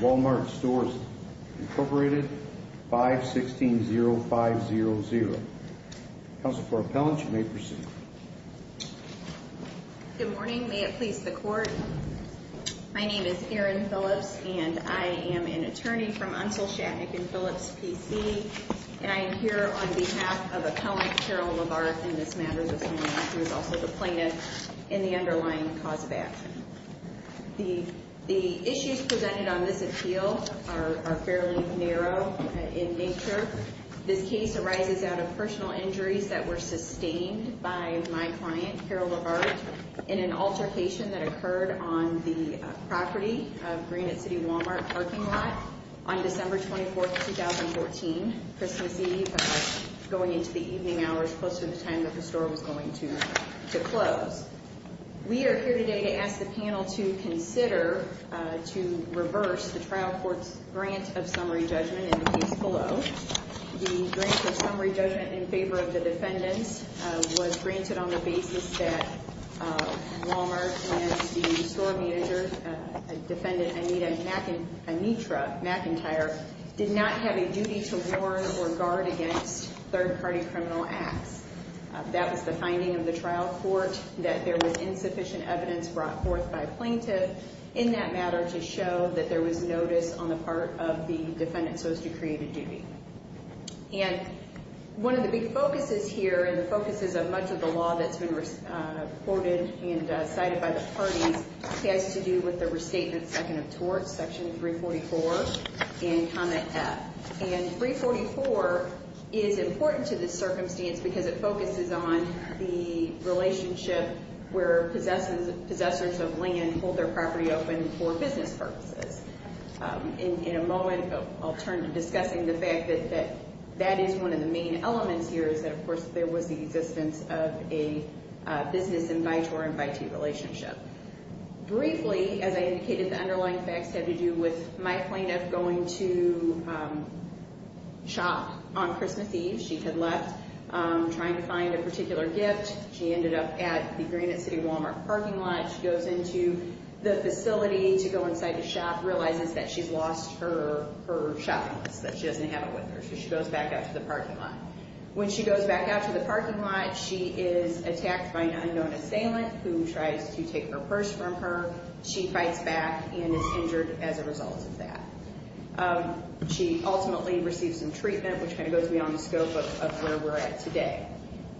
Wal-Mart Stores, Inc. 516-0500 Council for Appellants, you may proceed. Good morning. May it please the Court. My name is Erin Phillips, and I am an attorney from Unseld, Shatnick & Phillips, P.C. And I am here on behalf of Appellant Carol LaVar in this matter this morning, who is also the plaintiff in the underlying cause of action. The issues presented on this appeal are fairly narrow in nature. This case arises out of personal injuries that were sustained by my client, Carol LaVar, in an altercation that occurred on the property of Granite City Wal-Mart parking lot on December 24, 2014, Christmas Eve, going into the evening hours, close to the time that the store was going to close. We are here today to ask the panel to consider to reverse the trial court's grant of summary judgment in the case below. The grant of summary judgment in favor of the defendants was granted on the basis that Wal-Mart and the store manager, defendant Anita McIntyre, did not have a duty to warn or guard against third-party criminal acts. That was the finding of the trial court, that there was insufficient evidence brought forth by a plaintiff in that matter to show that there was notice on the part of the defendant supposed to create a duty. And one of the big focuses here, and the focuses of much of the law that's been reported and cited by the parties, has to do with the restatement second of torts, section 344, and comment F. And 344 is important to this circumstance because it focuses on the relationship where possessors of land hold their property open for business purposes. In a moment, I'll turn to discussing the fact that that is one of the main elements here, is that, of course, there was the existence of a business and by-tort and by-teat relationship. Briefly, as I indicated, the underlying facts have to do with my plaintiff going to shop on Christmas Eve. She had left trying to find a particular gift. She ended up at the Granite City Wal-Mart parking lot. She goes into the facility to go inside to shop, realizes that she's lost her shopping list, that she doesn't have it with her, so she goes back out to the parking lot. When she goes back out to the parking lot, she is attacked by an unknown assailant who tries to take her purse from her. She fights back and is injured as a result of that. She ultimately receives some treatment, which kind of goes beyond the scope of where we're at today.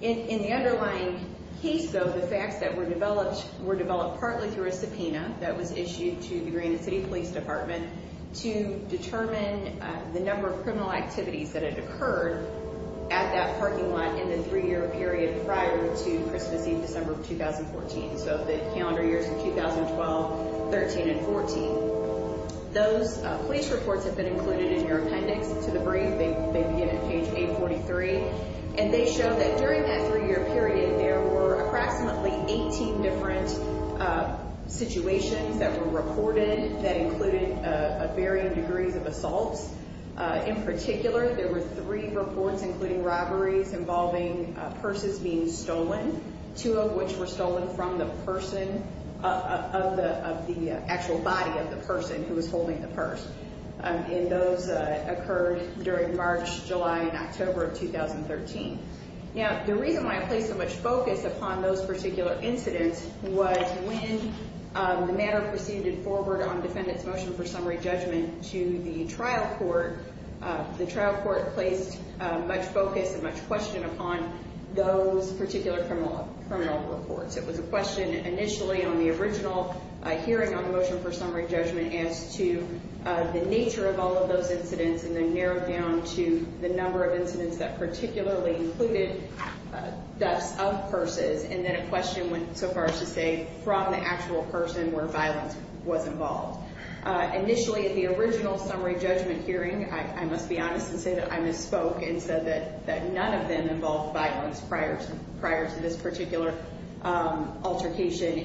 In the underlying case, though, the facts that were developed were developed partly through a subpoena that was issued to the Granite City Police Department to determine the number of criminal activities that had occurred at that parking lot in the three-year period prior to Christmas Eve, December of 2014, so the calendar years of 2012, 13, and 14. Those police reports have been included in your appendix to the brief. They begin at page 843. And they show that during that three-year period, there were approximately 18 different situations that were reported that included varying degrees of assaults. In particular, there were three reports, including robberies involving purses being stolen, two of which were stolen from the person of the actual body of the person who was holding the purse. And those occurred during March, July, and October of 2013. Now, the reason why I place so much focus upon those particular incidents was when the matter proceeded forward on defendant's motion for summary judgment to the trial court, the trial court placed much focus and much question upon those particular criminal reports. It was a question initially on the original hearing on the motion for summary judgment as to the nature of all of those incidents, and then narrowed down to the number of incidents that particularly included thefts of purses, and then a question went so far as to say from the actual person where violence was involved. Initially, at the original summary judgment hearing, I must be honest and say that I misspoke and said that none of them involved violence prior to this particular altercation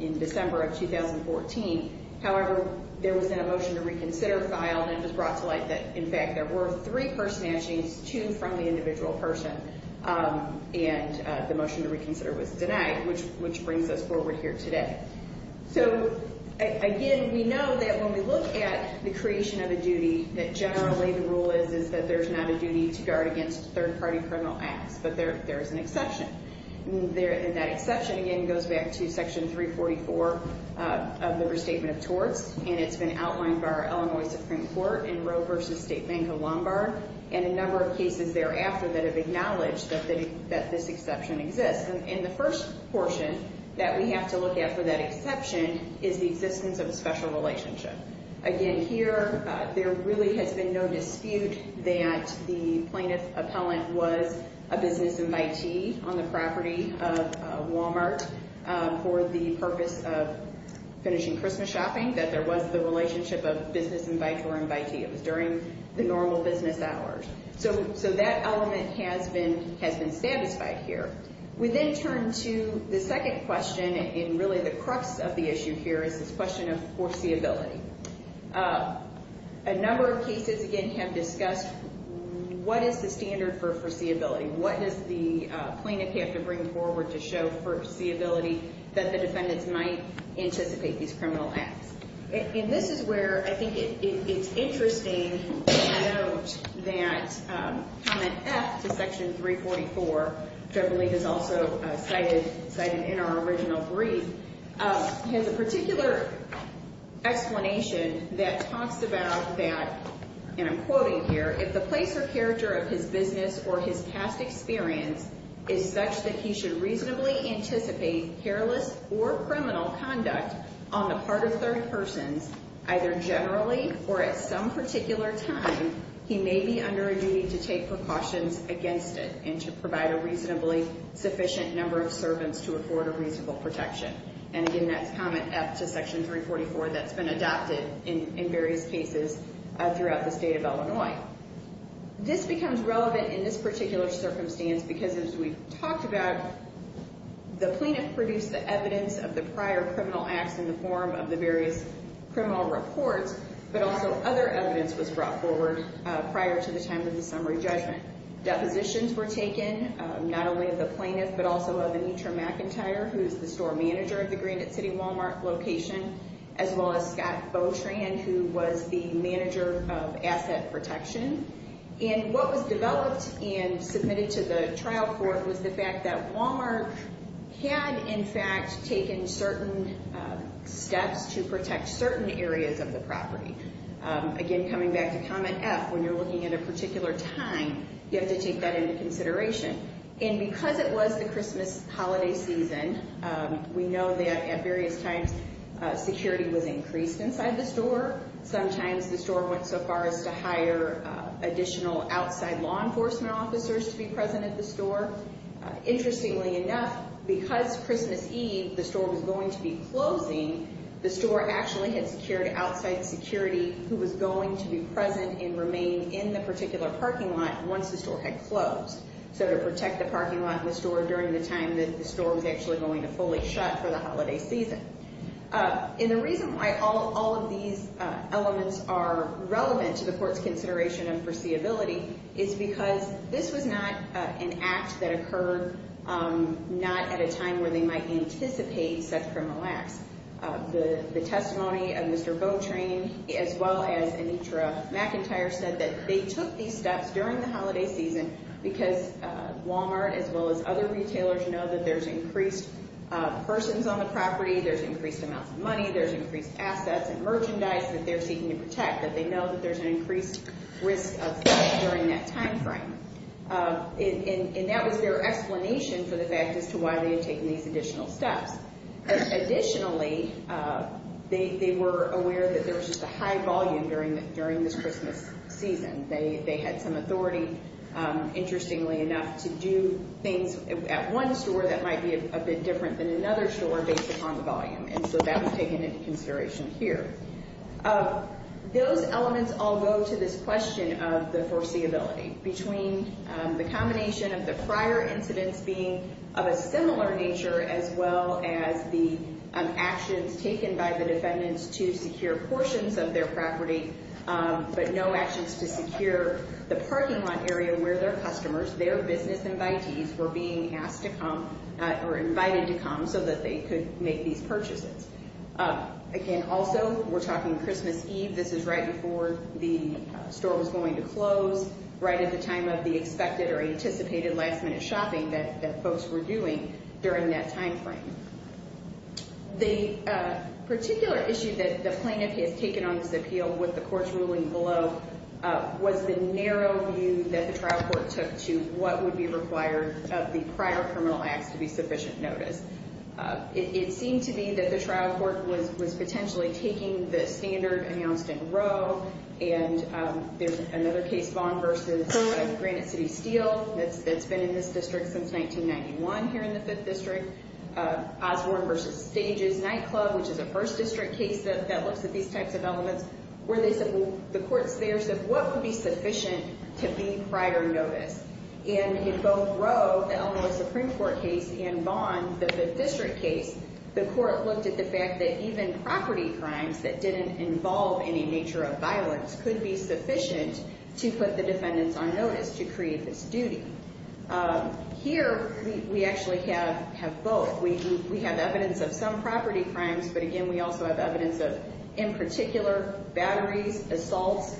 in December of 2014. However, there was then a motion to reconsider filed, and it was brought to light that, in fact, there were three purse snatchings, two from the individual person, and the motion to reconsider was denied, which brings us forward here today. So, again, we know that when we look at the creation of a duty, that generally the rule is that there's not a duty to guard against third-party criminal acts, but there is an exception. And that exception, again, goes back to Section 344 of the Restatement of Torts, and it's been outlined by our Illinois Supreme Court in Roe v. State v. Lombard, and a number of cases thereafter that have acknowledged that this exception exists. And the first portion that we have to look at for that exception is the existence of a special relationship. Again, here, there really has been no dispute that the plaintiff appellant was a business invitee on the property of Walmart for the purpose of finishing Christmas shopping, that there was the relationship of business invitee or invitee. It was during the normal business hours. So that element has been satisfied here. We then turn to the second question, and really the crux of the issue here is this question of foreseeability. A number of cases, again, have discussed what is the standard for foreseeability? What does the plaintiff have to bring forward to show foreseeability that the defendants might anticipate these criminal acts? And this is where I think it's interesting to note that Comment F to Section 344, which I believe is also cited in our original brief, has a particular explanation that talks about that, and I'm quoting here, if the place or character of his business or his past experience is such that he should reasonably anticipate careless or criminal conduct on the part of third persons, either generally or at some particular time, he may be under a duty to take precautions against it and to provide a reasonably sufficient number of servants to afford a reasonable protection. And again, that's Comment F to Section 344 that's been adopted in various cases throughout the state of Illinois. This becomes relevant in this particular circumstance because, as we've talked about, the plaintiff produced the evidence of the prior criminal acts in the form of the various criminal reports, but also other evidence was brought forward prior to the time of the summary judgment. Depositions were taken, not only of the plaintiff, but also of Anitra McIntyre, who is the store manager of the Granite City Walmart location, as well as Scott Botran, who was the manager of asset protection. And what was developed and submitted to the trial court was the fact that Walmart had, in fact, taken certain steps to protect certain areas of the property. Again, coming back to Comment F, when you're looking at a particular time, you have to take that into consideration. And because it was the Christmas holiday season, we know that at various times security was increased inside the store. Sometimes the store went so far as to hire additional outside law enforcement officers to be present at the store. Interestingly enough, because Christmas Eve the store was going to be closing, the store actually had secured outside security who was going to be present and remain in the particular parking lot once the store had closed. So to protect the parking lot and the store during the time that the store was actually going to fully shut for the holiday season. And the reason why all of these elements are relevant to the court's consideration of foreseeability is because this was not an act that occurred not at a time where they might anticipate such criminal acts. The testimony of Mr. Botran, as well as Anitra McIntyre, said that they took these steps during the holiday season because Walmart, as well as other retailers, know that there's increased persons on the property, there's increased amounts of money, there's increased assets and merchandise that they're seeking to protect, that they know that there's an increased risk of theft during that time frame. And that was their explanation for the fact as to why they had taken these additional steps. Additionally, they were aware that there was just a high volume during this Christmas season. They had some authority, interestingly enough, to do things at one store that might be a bit different than another store based upon the volume. And so that was taken into consideration here. Those elements all go to this question of the foreseeability. Between the combination of the prior incidents being of a similar nature, as well as the actions taken by the defendants to secure portions of their property, but no actions to secure the parking lot area where their customers, their business invitees, were being asked to come or invited to come so that they could make these purchases. Again, also, we're talking Christmas Eve. This is right before the store was going to close, right at the time of the expected or anticipated last-minute shopping that folks were doing during that time frame. The particular issue that the plaintiff has taken on this appeal with the court's ruling below was the narrow view that the trial court took to what would be required of the prior criminal acts to be sufficient notice. It seemed to me that the trial court was potentially taking the standard announced in Roe, and there's another case, Vaughn v. Granite City Steel, that's been in this district since 1991, here in the 5th District. Osborne v. Stages Nightclub, which is a 1st District case that looks at these types of elements, where they said, well, the court's there, so what would be sufficient to be prior notice? In both Roe, the Illinois Supreme Court case, and Vaughn, the 5th District case, the court looked at the fact that even property crimes that didn't involve any nature of violence could be sufficient to put the defendants on notice to create this duty. Here, we actually have both. We have evidence of some property crimes, but again, we also have evidence of, in particular, batteries, assaults,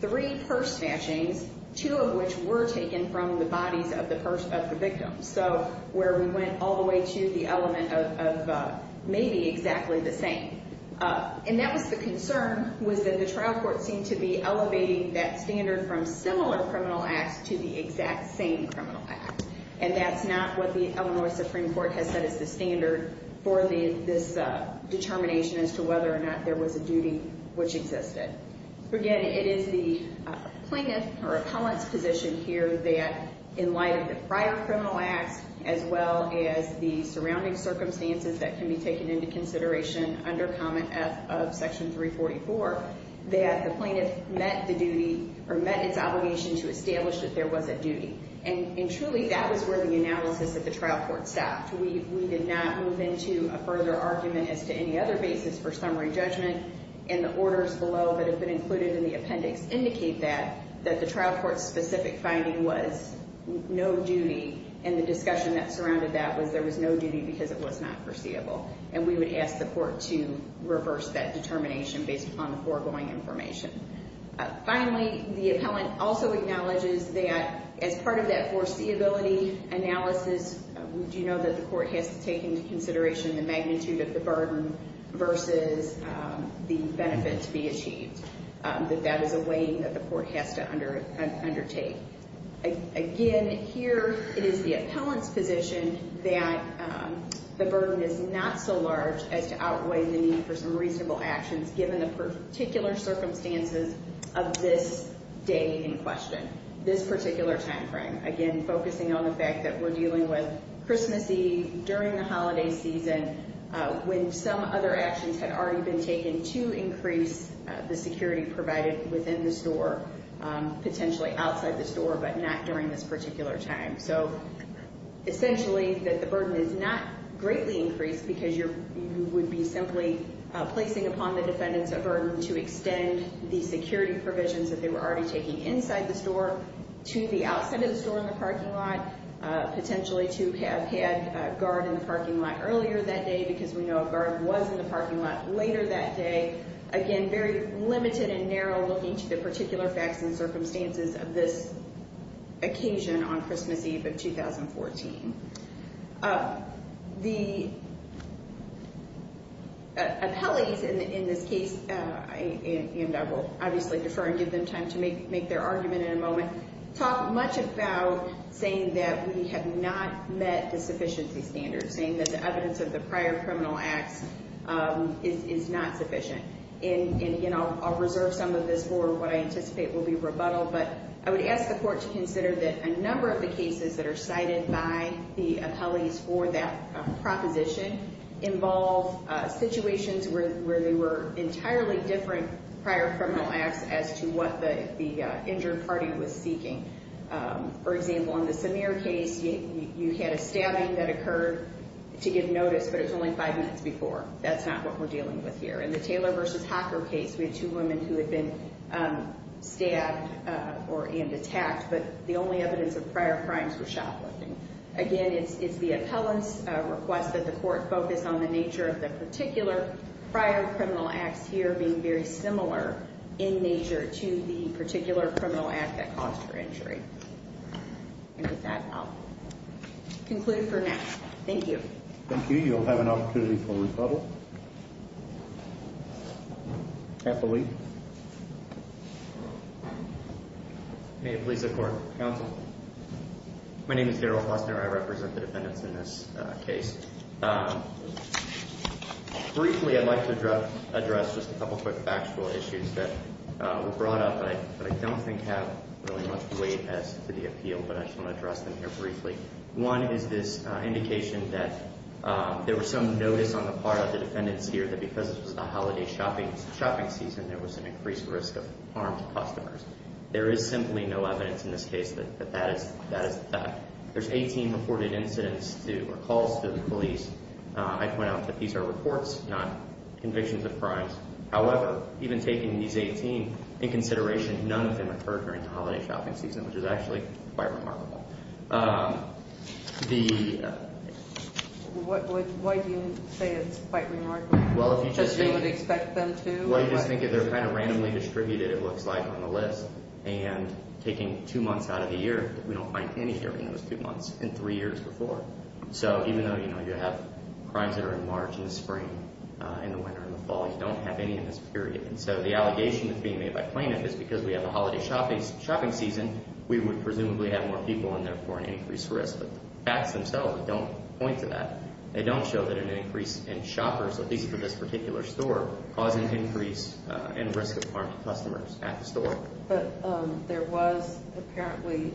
three purse snatchings, two of which were taken from the bodies of the victims, so where we went all the way to the element of maybe exactly the same. And that was the concern, was that the trial court seemed to be elevating that standard from similar criminal acts to the exact same criminal act, and that's not what the Illinois Supreme Court has said is the standard for this determination as to whether or not there was a duty which existed. Again, it is the plaintiff or appellant's position here that, in light of the prior criminal acts, as well as the surrounding circumstances that can be taken into consideration under Comment F of Section 344, that the plaintiff met the duty or met its obligation to establish that there was a duty. And truly, that was where the analysis at the trial court stopped. We did not move into a further argument as to any other basis for summary judgment, and the orders below that have been included in the appendix indicate that, that the trial court's specific finding was no duty, and the discussion that surrounded that was there was no duty because it was not foreseeable, and we would ask the court to reverse that determination based upon the foregoing information. Finally, the appellant also acknowledges that, as part of that foreseeability analysis, we do know that the court has to take into consideration the magnitude of the burden versus the benefit to be achieved, that that is a weighing that the court has to undertake. Again, here it is the appellant's position that the burden is not so large as to outweigh the need for some reasonable actions given the particular circumstances of this day in question, this particular time frame. Again, focusing on the fact that we're dealing with Christmas Eve during the holiday season when some other actions had already been taken to increase the security provided within the store, potentially outside the store, but not during this particular time. So, essentially, that the burden is not greatly increased because you would be simply placing upon the defendants a burden to extend the security provisions that they were already taking inside the store to the outside of the store in the parking lot, potentially to have had a guard in the parking lot earlier that day because we know a guard was in the parking lot later that day. Again, very limited and narrow looking to the particular facts and circumstances of this occasion on Christmas Eve of 2014. The appellees in this case, and I will obviously defer and give them time to make their argument in a moment, talk much about saying that we have not met the sufficiency standards, saying that the evidence of the prior criminal acts is not sufficient. Again, I'll reserve some of this for what I anticipate will be rebuttal, but I would ask the court to consider that a number of the cases that are cited by the appellees for that proposition involve situations where they were entirely different prior criminal acts as to what the injured party was seeking. For example, in the Samir case, you had a stabbing that occurred to give notice, but it was only five minutes before. That's not what we're dealing with here. In the Taylor v. Hocker case, we had two women who had been stabbed and attacked, but the only evidence of prior crimes was shoplifting. Again, it's the appellant's request that the court focus on the nature of the particular prior criminal acts here being very similar in nature to the particular criminal act that caused her injury. And with that, I'll conclude for now. Thank you. Thank you. You'll have an opportunity for rebuttal. Appellee. May it please the Court. Counsel. My name is Darrell Hosner. I represent the defendants in this case. Briefly, I'd like to address just a couple quick factual issues that were brought up that I don't think have really much weight as to the appeal, but I just want to address them here briefly. One is this indication that there was some notice on the part of the defendants here that because this was the holiday shopping season, there was an increased risk of harm to customers. There is simply no evidence in this case that that is the fact. There's 18 reported incidents or calls to the police. I point out that these are reports, not convictions of crimes. However, even taking these 18 in consideration, none of them occurred during the holiday shopping season, which is actually quite remarkable. Why do you say it's quite remarkable? Because you would expect them to? Well, you just think if they're kind of randomly distributed, it looks like on the list, and taking two months out of the year, we don't find any during those two months in three years before. So even though you have crimes that are in March in the spring, in the winter, in the fall, you don't have any in this period. And so the allegation that's being made by plaintiff is because we have a holiday shopping season, we would presumably have more people in there for an increased risk. But the facts themselves don't point to that. They don't show that an increase in shoppers, at least for this particular store, caused an increase in risk of harm to customers at the store. But there was apparently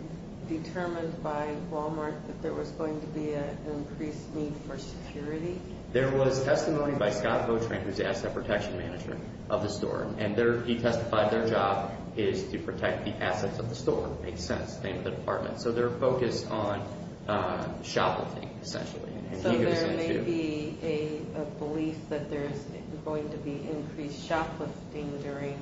determined by Walmart that there was going to be an increased need for security? There was testimony by Scott Botran, who's the asset protection manager of the store, and he testified their job is to protect the assets of the store. Makes sense. Name of the department. So they're focused on shoplifting, essentially. So there may be a belief that there's going to be increased shoplifting during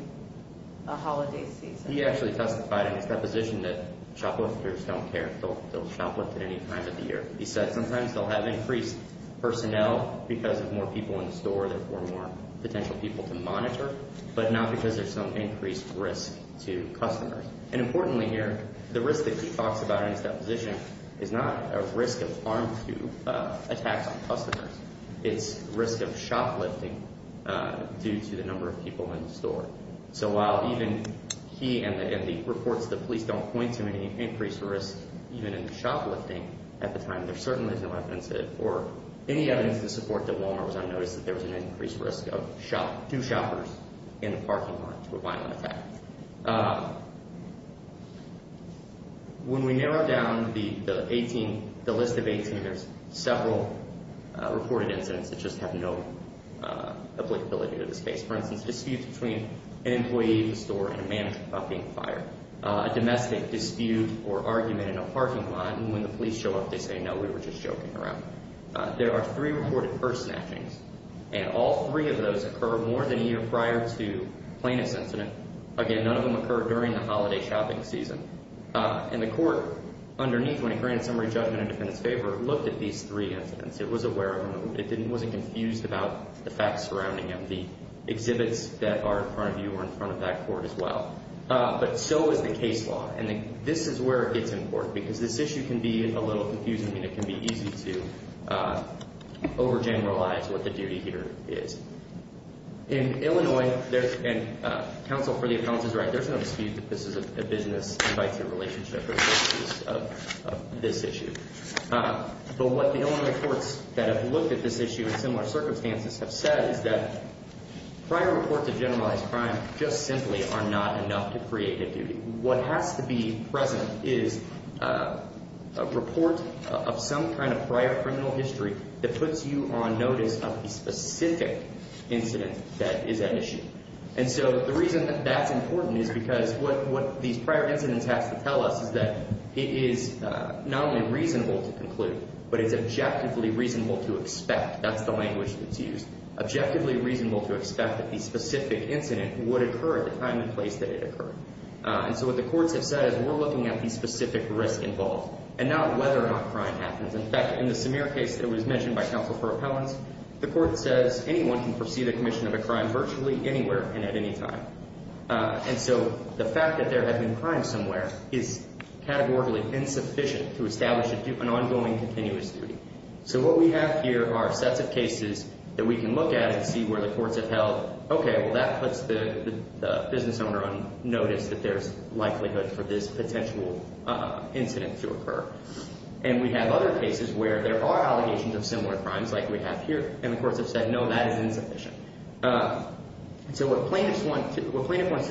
a holiday season? He actually testified in his deposition that shoplifters don't care if they'll shoplift at any time of the year. He said sometimes they'll have increased personnel because of more people in the store, therefore more potential people to monitor, but not because there's some increased risk to customers. And importantly here, the risk that he talks about in his deposition is not a risk of harm to attacks on customers. It's risk of shoplifting due to the number of people in the store. So while even he and the reports of the police don't point to any increased risk even in shoplifting at the time, there certainly is no evidence that, or any evidence to support that Walmart was unnoticed, that there was an increased risk of two shoppers in the parking lot to a violent attack. When we narrow down the list of 18, there's several reported incidents that just have no applicability to this case. For instance, disputes between an employee of the store and a manager about being fired. A domestic dispute or argument in a parking lot, and when the police show up, they say, no, we were just joking around. There are three reported purse snatchings, and all three of those occur more than a year prior to a plaintiff's incident. Again, none of them occur during the holiday shopping season. And the court, underneath, when it granted summary judgment in the defendant's favor, looked at these three incidents. It was aware of them. It wasn't confused about the facts surrounding them. The exhibits that are in front of you are in front of that court as well. But so is the case law. And this is where it gets important, because this issue can be a little confusing, and it can be easy to overgeneralize what the duty here is. In Illinois, and counsel, for the accountant's right, there's no dispute that this is a business-invite-to-relationship of this issue. But what the Illinois courts that have looked at this issue in similar circumstances have said is that prior reports of generalized crime just simply are not enough to create a duty. What has to be present is a report of some kind of prior criminal history that puts you on notice of the specific incident that is at issue. And so the reason that that's important is because what these prior incidents have to tell us is that it is not only reasonable to conclude, but it's objectively reasonable to expect. That's the language that's used. Objectively reasonable to expect that the specific incident would occur at the time and place that it occurred. And so what the courts have said is we're looking at the specific risk involved, and not whether or not crime happens. In fact, in the Samir case that was mentioned by counsel for appellants, the court says anyone can foresee the commission of a crime virtually anywhere and at any time. And so the fact that there had been crime somewhere is categorically insufficient to establish an ongoing continuous duty. So what we have here are sets of cases that we can look at and see where the courts have held, okay, well, that puts the business owner on notice that there's likelihood for this potential incident to occur. And we have other cases where there are allegations of similar crimes like we have here, and the courts have said, no, that is insufficient. So what plaintiffs want to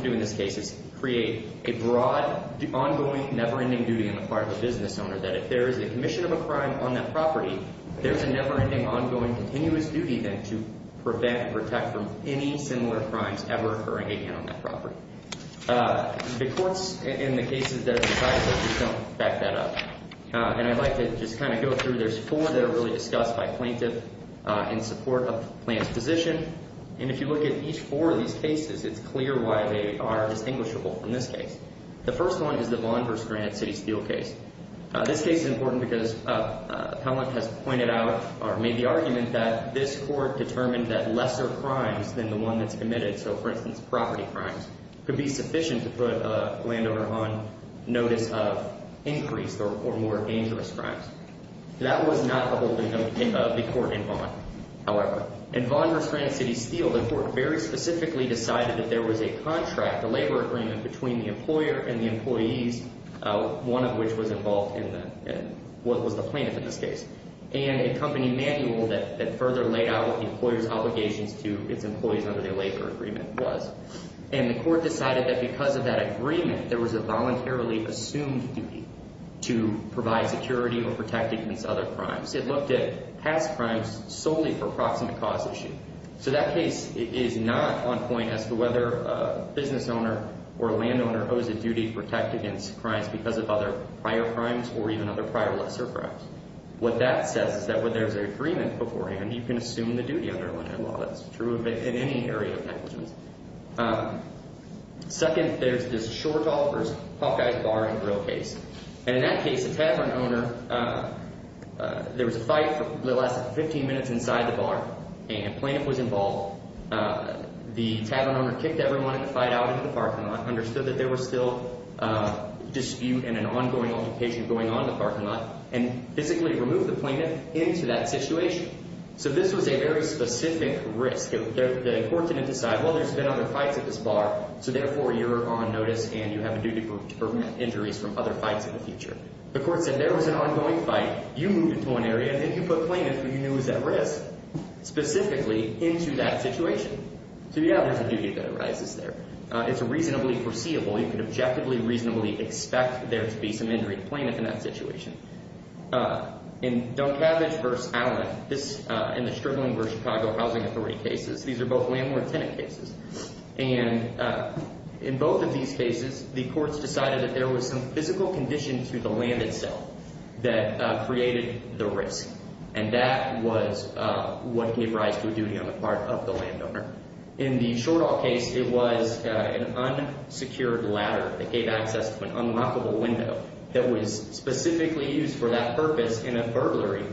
do in this case is create a broad, ongoing, never-ending duty on the part of the business owner that if there is a commission of a crime on that property, there's a never-ending, ongoing, continuous duty then to prevent and protect from any similar crimes ever occurring on that property. The courts in the cases that have been cited just don't back that up. And I'd like to just kind of go through. There's four that are really discussed by plaintiff in support of the plaintiff's position. And if you look at each four of these cases, it's clear why they are distinguishable from this case. The first one is the Vaughn v. Granite City Steel case. This case is important because Appellant has pointed out or made the argument that this court determined that lesser crimes than the one that's committed, so for instance, property crimes, could be sufficient to put a landowner on notice of increased or more dangerous crimes. That was not publicly known of the court in Vaughn, however. In Vaughn v. Granite City Steel, the court very specifically decided that there was a contract, a labor agreement between the employer and the employees, one of which was involved in the, was the plaintiff in this case, and a company manual that further laid out what the employer's obligations to its employees under their labor agreement was. And the court decided that because of that agreement, there was a voluntarily assumed duty to provide security or protect against other crimes. It looked at past crimes solely for proximate cause issue. So that case is not on point as to whether a business owner or a landowner owes a duty to protect against crimes because of other prior crimes or even other prior lesser crimes. What that says is that when there's an agreement beforehand, you can assume the duty under land law. That's true in any area of negligence. Second, there's a short offer, Hawkeye's Bar and Grill case. And in that case, the tavern owner, there was a fight that lasted 15 minutes inside the bar, and a plaintiff was involved. The tavern owner kicked everyone in the fight out into the parking lot, understood that there was still dispute and an ongoing altercation going on in the parking lot, and physically removed the plaintiff into that situation. So this was a very specific risk. The court didn't decide, well, there's been other fights at this bar, so therefore you're on notice and you have a duty to prevent injuries from other fights in the future. The court said there was an ongoing fight, you moved into an area, and then you put the plaintiff who you knew was at risk specifically into that situation. So yeah, there's a duty that arises there. It's reasonably foreseeable. You can objectively reasonably expect there to be some injury to the plaintiff in that situation. In Doncavage v. Allen, this and the Struggling for Chicago Housing Authority cases, these are both landlord-tenant cases. And in both of these cases, the courts decided that there was some physical condition to the land itself that created the risk, and that was what gave rise to a duty on the part of the landowner. In the Shortall case, it was an unsecured ladder that gave access to an unlockable window that was specifically used for that purpose in a burglary.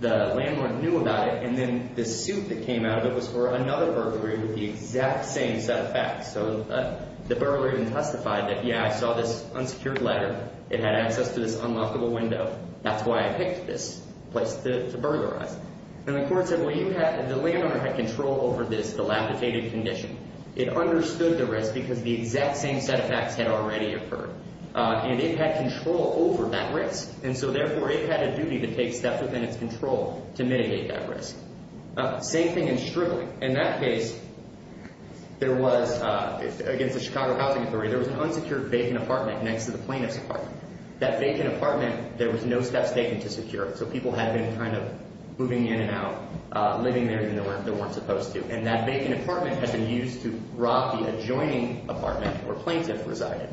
The landlord knew about it, and then the suit that came out of it was for another burglary with the exact same set of facts. So the burglar even testified that, yeah, I saw this unsecured ladder. It had access to this unlockable window. That's why I picked this place to burglarize. And the court said, well, the landowner had control over this dilapidated condition. It understood the risk because the exact same set of facts had already occurred. And it had control over that risk, and so therefore it had a duty to take steps within its control to mitigate that risk. Same thing in Struggling. In that case, there was, against the Chicago Housing Authority, there was an unsecured vacant apartment next to the plaintiff's apartment. That vacant apartment, there was no steps taken to secure it, so people had been kind of moving in and out, living there even though they weren't supposed to. And that vacant apartment had been used to rob the adjoining apartment where plaintiff resided.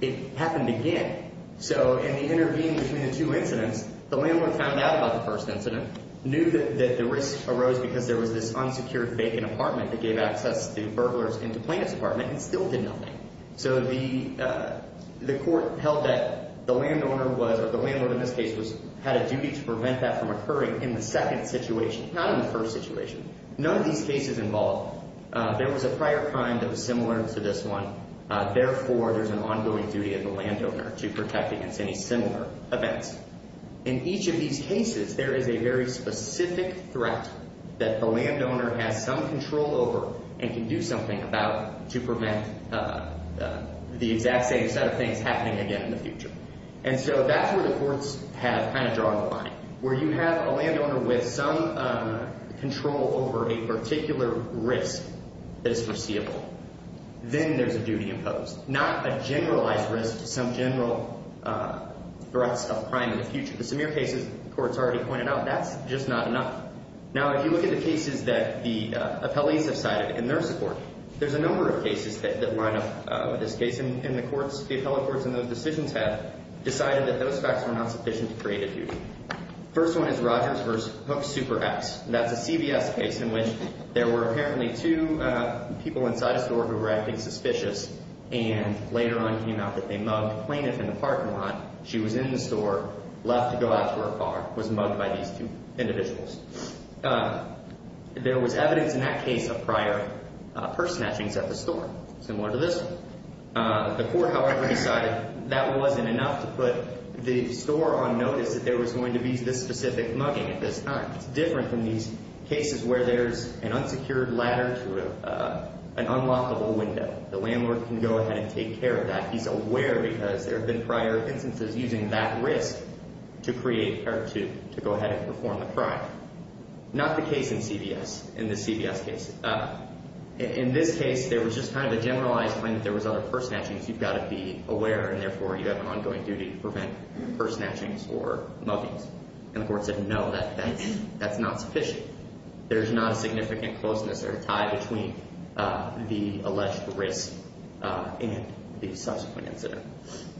It happened again. So in the intervening between the two incidents, the landlord found out about the first incident, knew that the risk arose because there was this unsecured vacant apartment that gave access to burglars and to plaintiff's apartment, and still did nothing. So the court held that the landowner was, or the landlord in this case, had a duty to prevent that from occurring in the second situation, not in the first situation. None of these cases involved. There was a prior crime that was similar to this one. Therefore, there's an ongoing duty of the landowner to protect against any similar events. In each of these cases, there is a very specific threat that the landowner has some control over and can do something about to prevent the exact same set of things happening again in the future. And so that's where the courts have kind of drawn the line, where you have a landowner with some control over a particular risk that is foreseeable. Then there's a duty imposed, not a generalized risk to some general threats of crime in the future. But some of your cases, the courts already pointed out, that's just not enough. Now, if you look at the cases that the appellees have cited in their support, there's a number of cases that line up with this case, and the courts, the appellate courts in those decisions have decided that those facts were not sufficient to create a duty. First one is Rogers v. Hook Super X. That's a CVS case in which there were apparently two people inside a store who were acting suspicious and later on it came out that they mugged a plaintiff in the parking lot. She was in the store, left to go out to her car, was mugged by these two individuals. There was evidence in that case of prior purse snatchings at the store, similar to this one. The court, however, decided that wasn't enough to put the store on notice that there was going to be this specific mugging at this time. It's different than these cases where there's an unsecured ladder to an unlockable window. The landlord can go ahead and take care of that. He's aware because there have been prior instances using that risk to create or to go ahead and perform the crime. Not the case in CVS, in this CVS case. In this case, there was just kind of a generalized claim that there was other purse snatchings. You've got to be aware, and therefore, you have an ongoing duty to prevent purse snatchings or muggings. And the court said, no, that's not sufficient. There's not a significant closeness or tie between the alleged risk and the subsequent incident.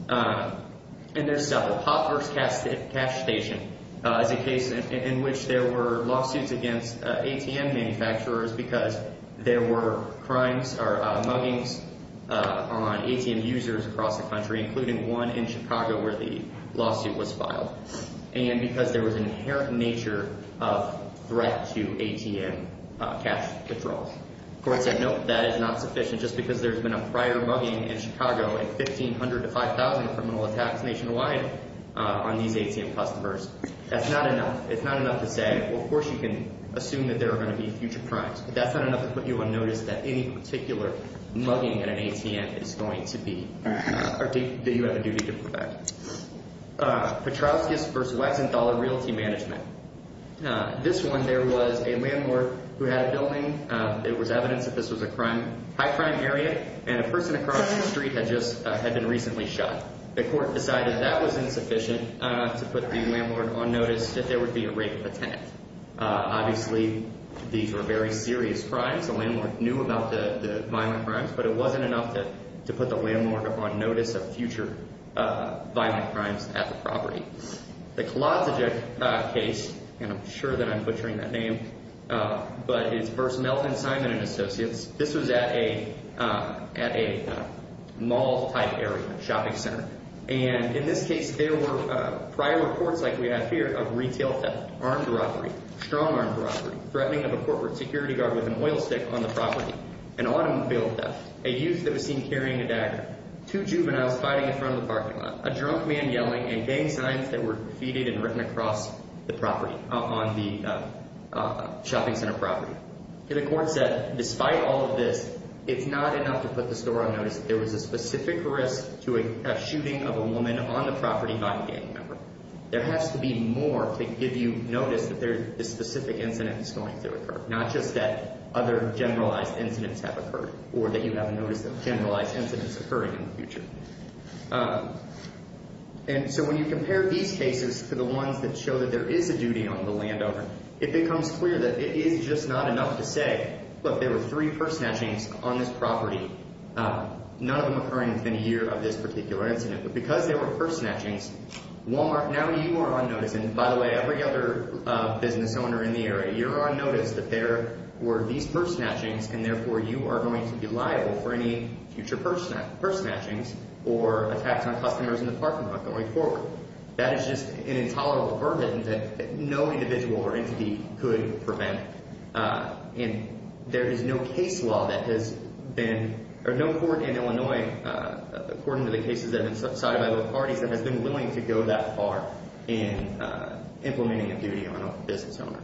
And there's several. Hopper's Cash Station is a case in which there were lawsuits against ATM manufacturers because there were crimes or muggings on ATM users across the country, including one in Chicago where the lawsuit was filed. And because there was an inherent nature of threat to ATM cash withdrawals. The court said, no, that is not sufficient. Just because there's been a prior mugging in Chicago and 1,500 to 5,000 criminal attacks nationwide on these ATM customers, that's not enough. It's not enough to say, well, of course you can assume that there are going to be future crimes. But that's not enough to put you on notice that any particular mugging at an ATM is going to be or that you have a duty to prevent. Petrowski's v. Wexenthaler Realty Management. This one, there was a landlord who had a building. It was evidence that this was a high-crime area, and a person across the street had just been recently shot. The court decided that was insufficient to put the landlord on notice that there would be a rape attempt. Obviously, these were very serious crimes. The landlord knew about the violent crimes, but it wasn't enough to put the landlord on notice of future violent crimes at the property. The Kolodziejk case, and I'm sure that I'm butchering that name, but it's v. Melton, Simon & Associates. This was at a mall-type area, a shopping center. And in this case, there were prior reports like we have here of retail theft, armed robbery, strong-armed robbery, threatening of a corporate security guard with an oil stick on the property, an automobile theft, a youth that was seen carrying a dagger, two juveniles fighting in front of the parking lot, a drunk man yelling, and gang signs that were defeated and written across the property on the shopping center property. And the court said, despite all of this, it's not enough to put the store on notice that there was a specific risk to a shooting of a woman on the property by a gang member. There has to be more to give you notice that this specific incident is going to occur, not just that other generalized incidents have occurred or that you have a notice of generalized incidents occurring in the future. And so when you compare these cases to the ones that show that there is a duty on the landowner, it becomes clear that it is just not enough to say, look, there were three purse snatchings on this property, none of them occurring within a year of this particular incident. But because there were purse snatchings, Walmart, now you are on notice, and by the way, every other business owner in the area, you're on notice that there were these purse snatchings, and therefore you are going to be liable for any future purse snatchings or attacks on customers in the parking lot going forward. That is just an intolerable burden that no individual or entity could prevent. And there is no case law that has been – or no court in Illinois, according to the cases that have been cited by both parties, that has been willing to go that far in implementing a duty on a business owner.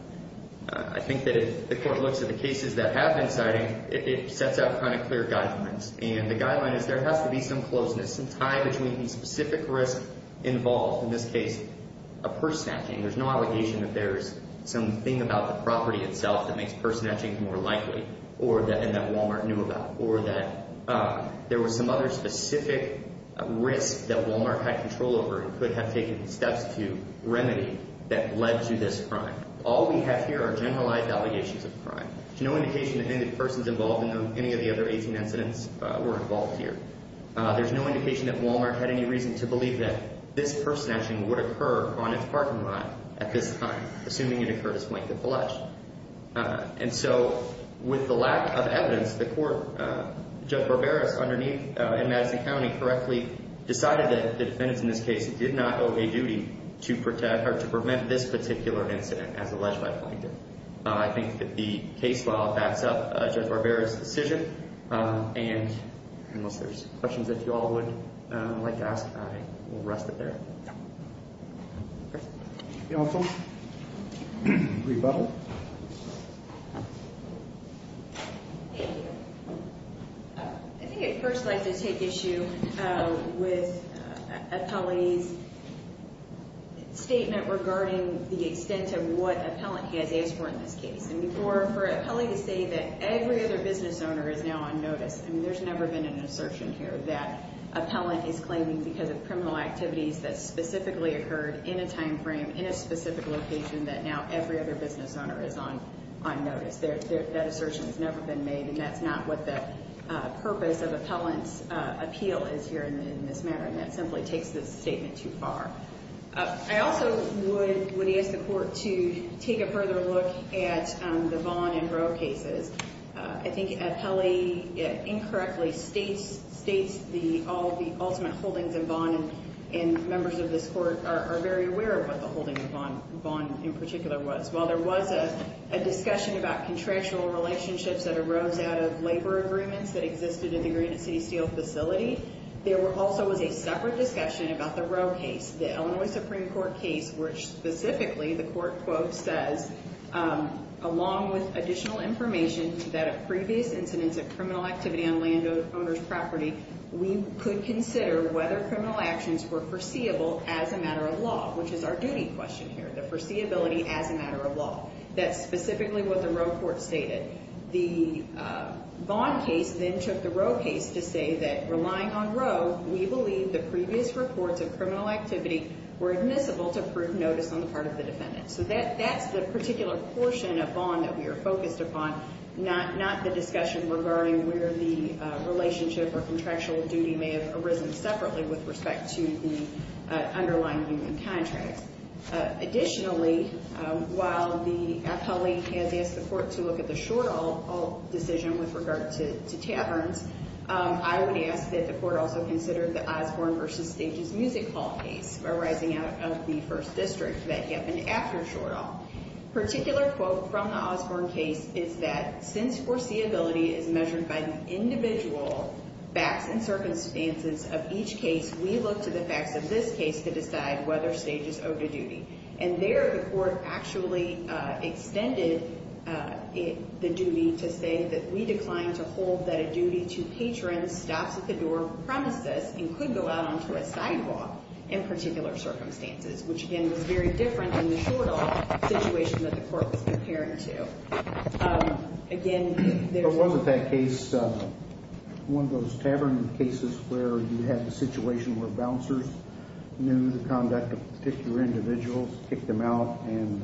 I think that if the court looks at the cases that have been cited, it sets out kind of clear guidelines, and the guideline is there has to be some closeness, some tie between specific risk involved, in this case a purse snatching. There is no allegation that there is something about the property itself that makes purse snatchings more likely or that Walmart knew about or that there was some other specific risk that Walmart had control over and could have taken steps to remedy that led to this crime. All we have here are generalized allegations of crime. There is no indication that any of the persons involved in any of the other 18 incidents were involved here. There is no indication that Walmart had any reason to believe that this purse snatching would occur on its parking lot at this time, assuming it occurred as Plankton pledged. And so with the lack of evidence, the court, Judge Barberis, underneath in Madison County, correctly decided that the defendants in this case did not owe a duty to prevent this particular incident as alleged by Plankton. I think that the case file backs up Judge Barberis' decision. And unless there's questions that you all would like to ask, I will rest it there. Thank you. Rebuttal. Thank you. I think I'd first like to take issue with Appellee's statement regarding the extent of what Appellant has asked for in this case. And for Appellee to say that every other business owner is now on notice, I mean, there's never been an assertion here that Appellant is claiming because of criminal activities that specifically occurred in a time frame, in a specific location, that now every other business owner is on notice. That assertion has never been made, and that's not what the purpose of Appellant's appeal is here in this matter. And that simply takes this statement too far. I also would ask the Court to take a further look at the Vaughn and Roe cases. I think Appellee incorrectly states the ultimate holdings of Vaughn, and members of this Court are very aware of what the holdings of Vaughn in particular was. While there was a discussion about contractual relationships that arose out of labor agreements that existed in the Granite City Steel facility, there also was a separate discussion about the Roe case. The Illinois Supreme Court case, which specifically the Court quote says, along with additional information that a previous incidence of criminal activity on landowner's property, we could consider whether criminal actions were foreseeable as a matter of law, which is our duty question here, the foreseeability as a matter of law. That's specifically what the Roe court stated. The Vaughn case then took the Roe case to say that relying on Roe, we believe the previous reports of criminal activity were admissible to prove notice on the part of the defendant. So that's the particular portion of Vaughn that we are focused upon, not the discussion regarding where the relationship or contractual duty may have arisen separately with respect to the underlying union contract. Additionally, while our colleague has asked the Court to look at the Shortall decision with regard to taverns, I would ask that the Court also consider the Osborne v. Stages Music Hall case arising out of the First District that happened after Shortall. Particular quote from the Osborne case is that, since foreseeability is measured by the individual facts and circumstances of each case, we look to the facts of this case to decide whether Stages owed a duty. And there the Court actually extended the duty to say that we decline to hold that a duty to patron stops at the door of a premises and could go out onto a sidewalk in particular circumstances, which again was very different than the Shortall situation that the Court was comparing to. But wasn't that case one of those tavern cases where you had the situation where bouncers knew the conduct of particular individuals, kicked them out, and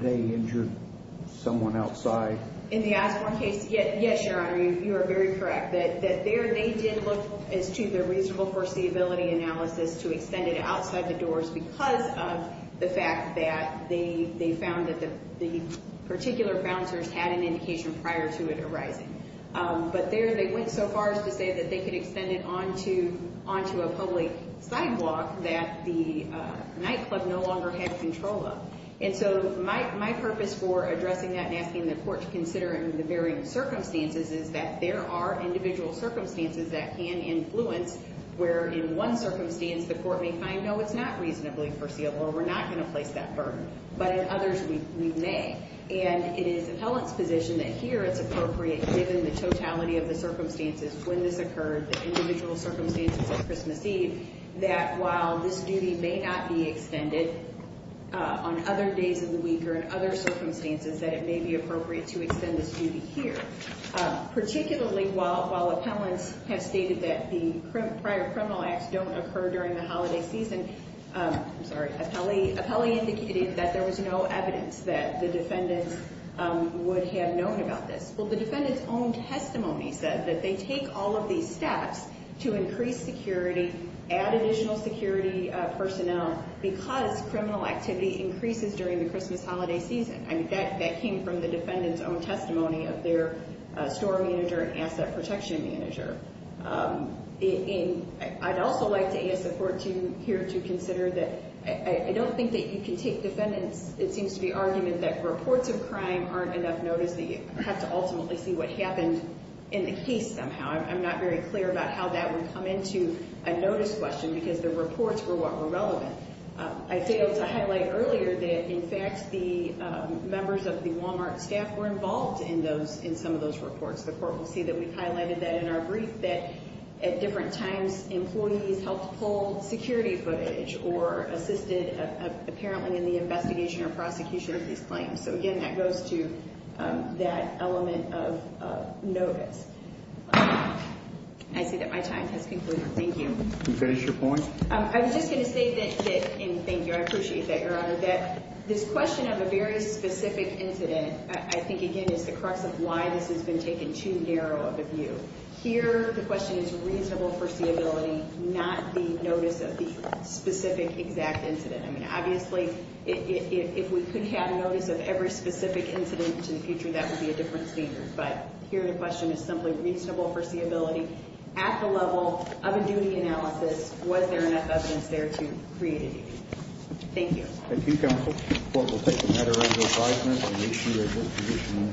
they injured someone outside? In the Osborne case, yes, Your Honor, you are very correct that there they did look as to the reasonable foreseeability analysis to extend it outside the doors because of the fact that they found that the particular bouncers had an indication prior to it arising. But there they went so far as to say that they could extend it onto a public sidewalk that the nightclub no longer had control of. And so my purpose for addressing that and asking the Court to consider it in the varying circumstances is that there are individual circumstances that can influence where in one circumstance the Court may find, no, it's not reasonably foreseeable, or we're not going to place that burden. But in others we may. And it is appellant's position that here it's appropriate, given the totality of the circumstances when this occurred, the individual circumstances at Christmas Eve, that while this duty may not be extended on other days of the week or in other circumstances, that it may be appropriate to extend this duty here. Particularly while appellants have stated that the prior criminal acts don't occur during the holiday season, I'm sorry, appellee indicated that there was no evidence that the defendants would have known about this. Well, the defendant's own testimony said that they take all of these steps to increase security, add additional security personnel, because criminal activity increases during the Christmas holiday season. I mean, that came from the defendant's own testimony of their store manager and asset protection manager. I'd also like to ask the Court here to consider that I don't think that you can take defendant's, it seems to be, argument that reports of crime aren't enough notice that you have to ultimately see what happened in the case somehow. I'm not very clear about how that would come into a notice question, because the reports were what were relevant. I failed to highlight earlier that, in fact, the members of the Walmart staff were involved in some of those reports. The Court will see that we've highlighted that in our brief, that at different times, employees helped pull security footage or assisted, apparently, in the investigation or prosecution of these claims. So, again, that goes to that element of notice. I see that my time has concluded. Thank you. Can you finish your point? I was just going to say that, and thank you, I appreciate that, Your Honor, that this question of a very specific incident, I think, again, is the crux of why this has been taken too narrow of a view. Here, the question is reasonable foreseeability, not the notice of the specific, exact incident. I mean, obviously, if we could have notice of every specific incident to the future, that would be a different standard. But, here, the question is simply reasonable foreseeability. At the level of a duty analysis, was there enough evidence there to create a duty? Thank you. Thank you, Counsel. The Court will take a matter under advisement and issue a notification to the Court. All rise.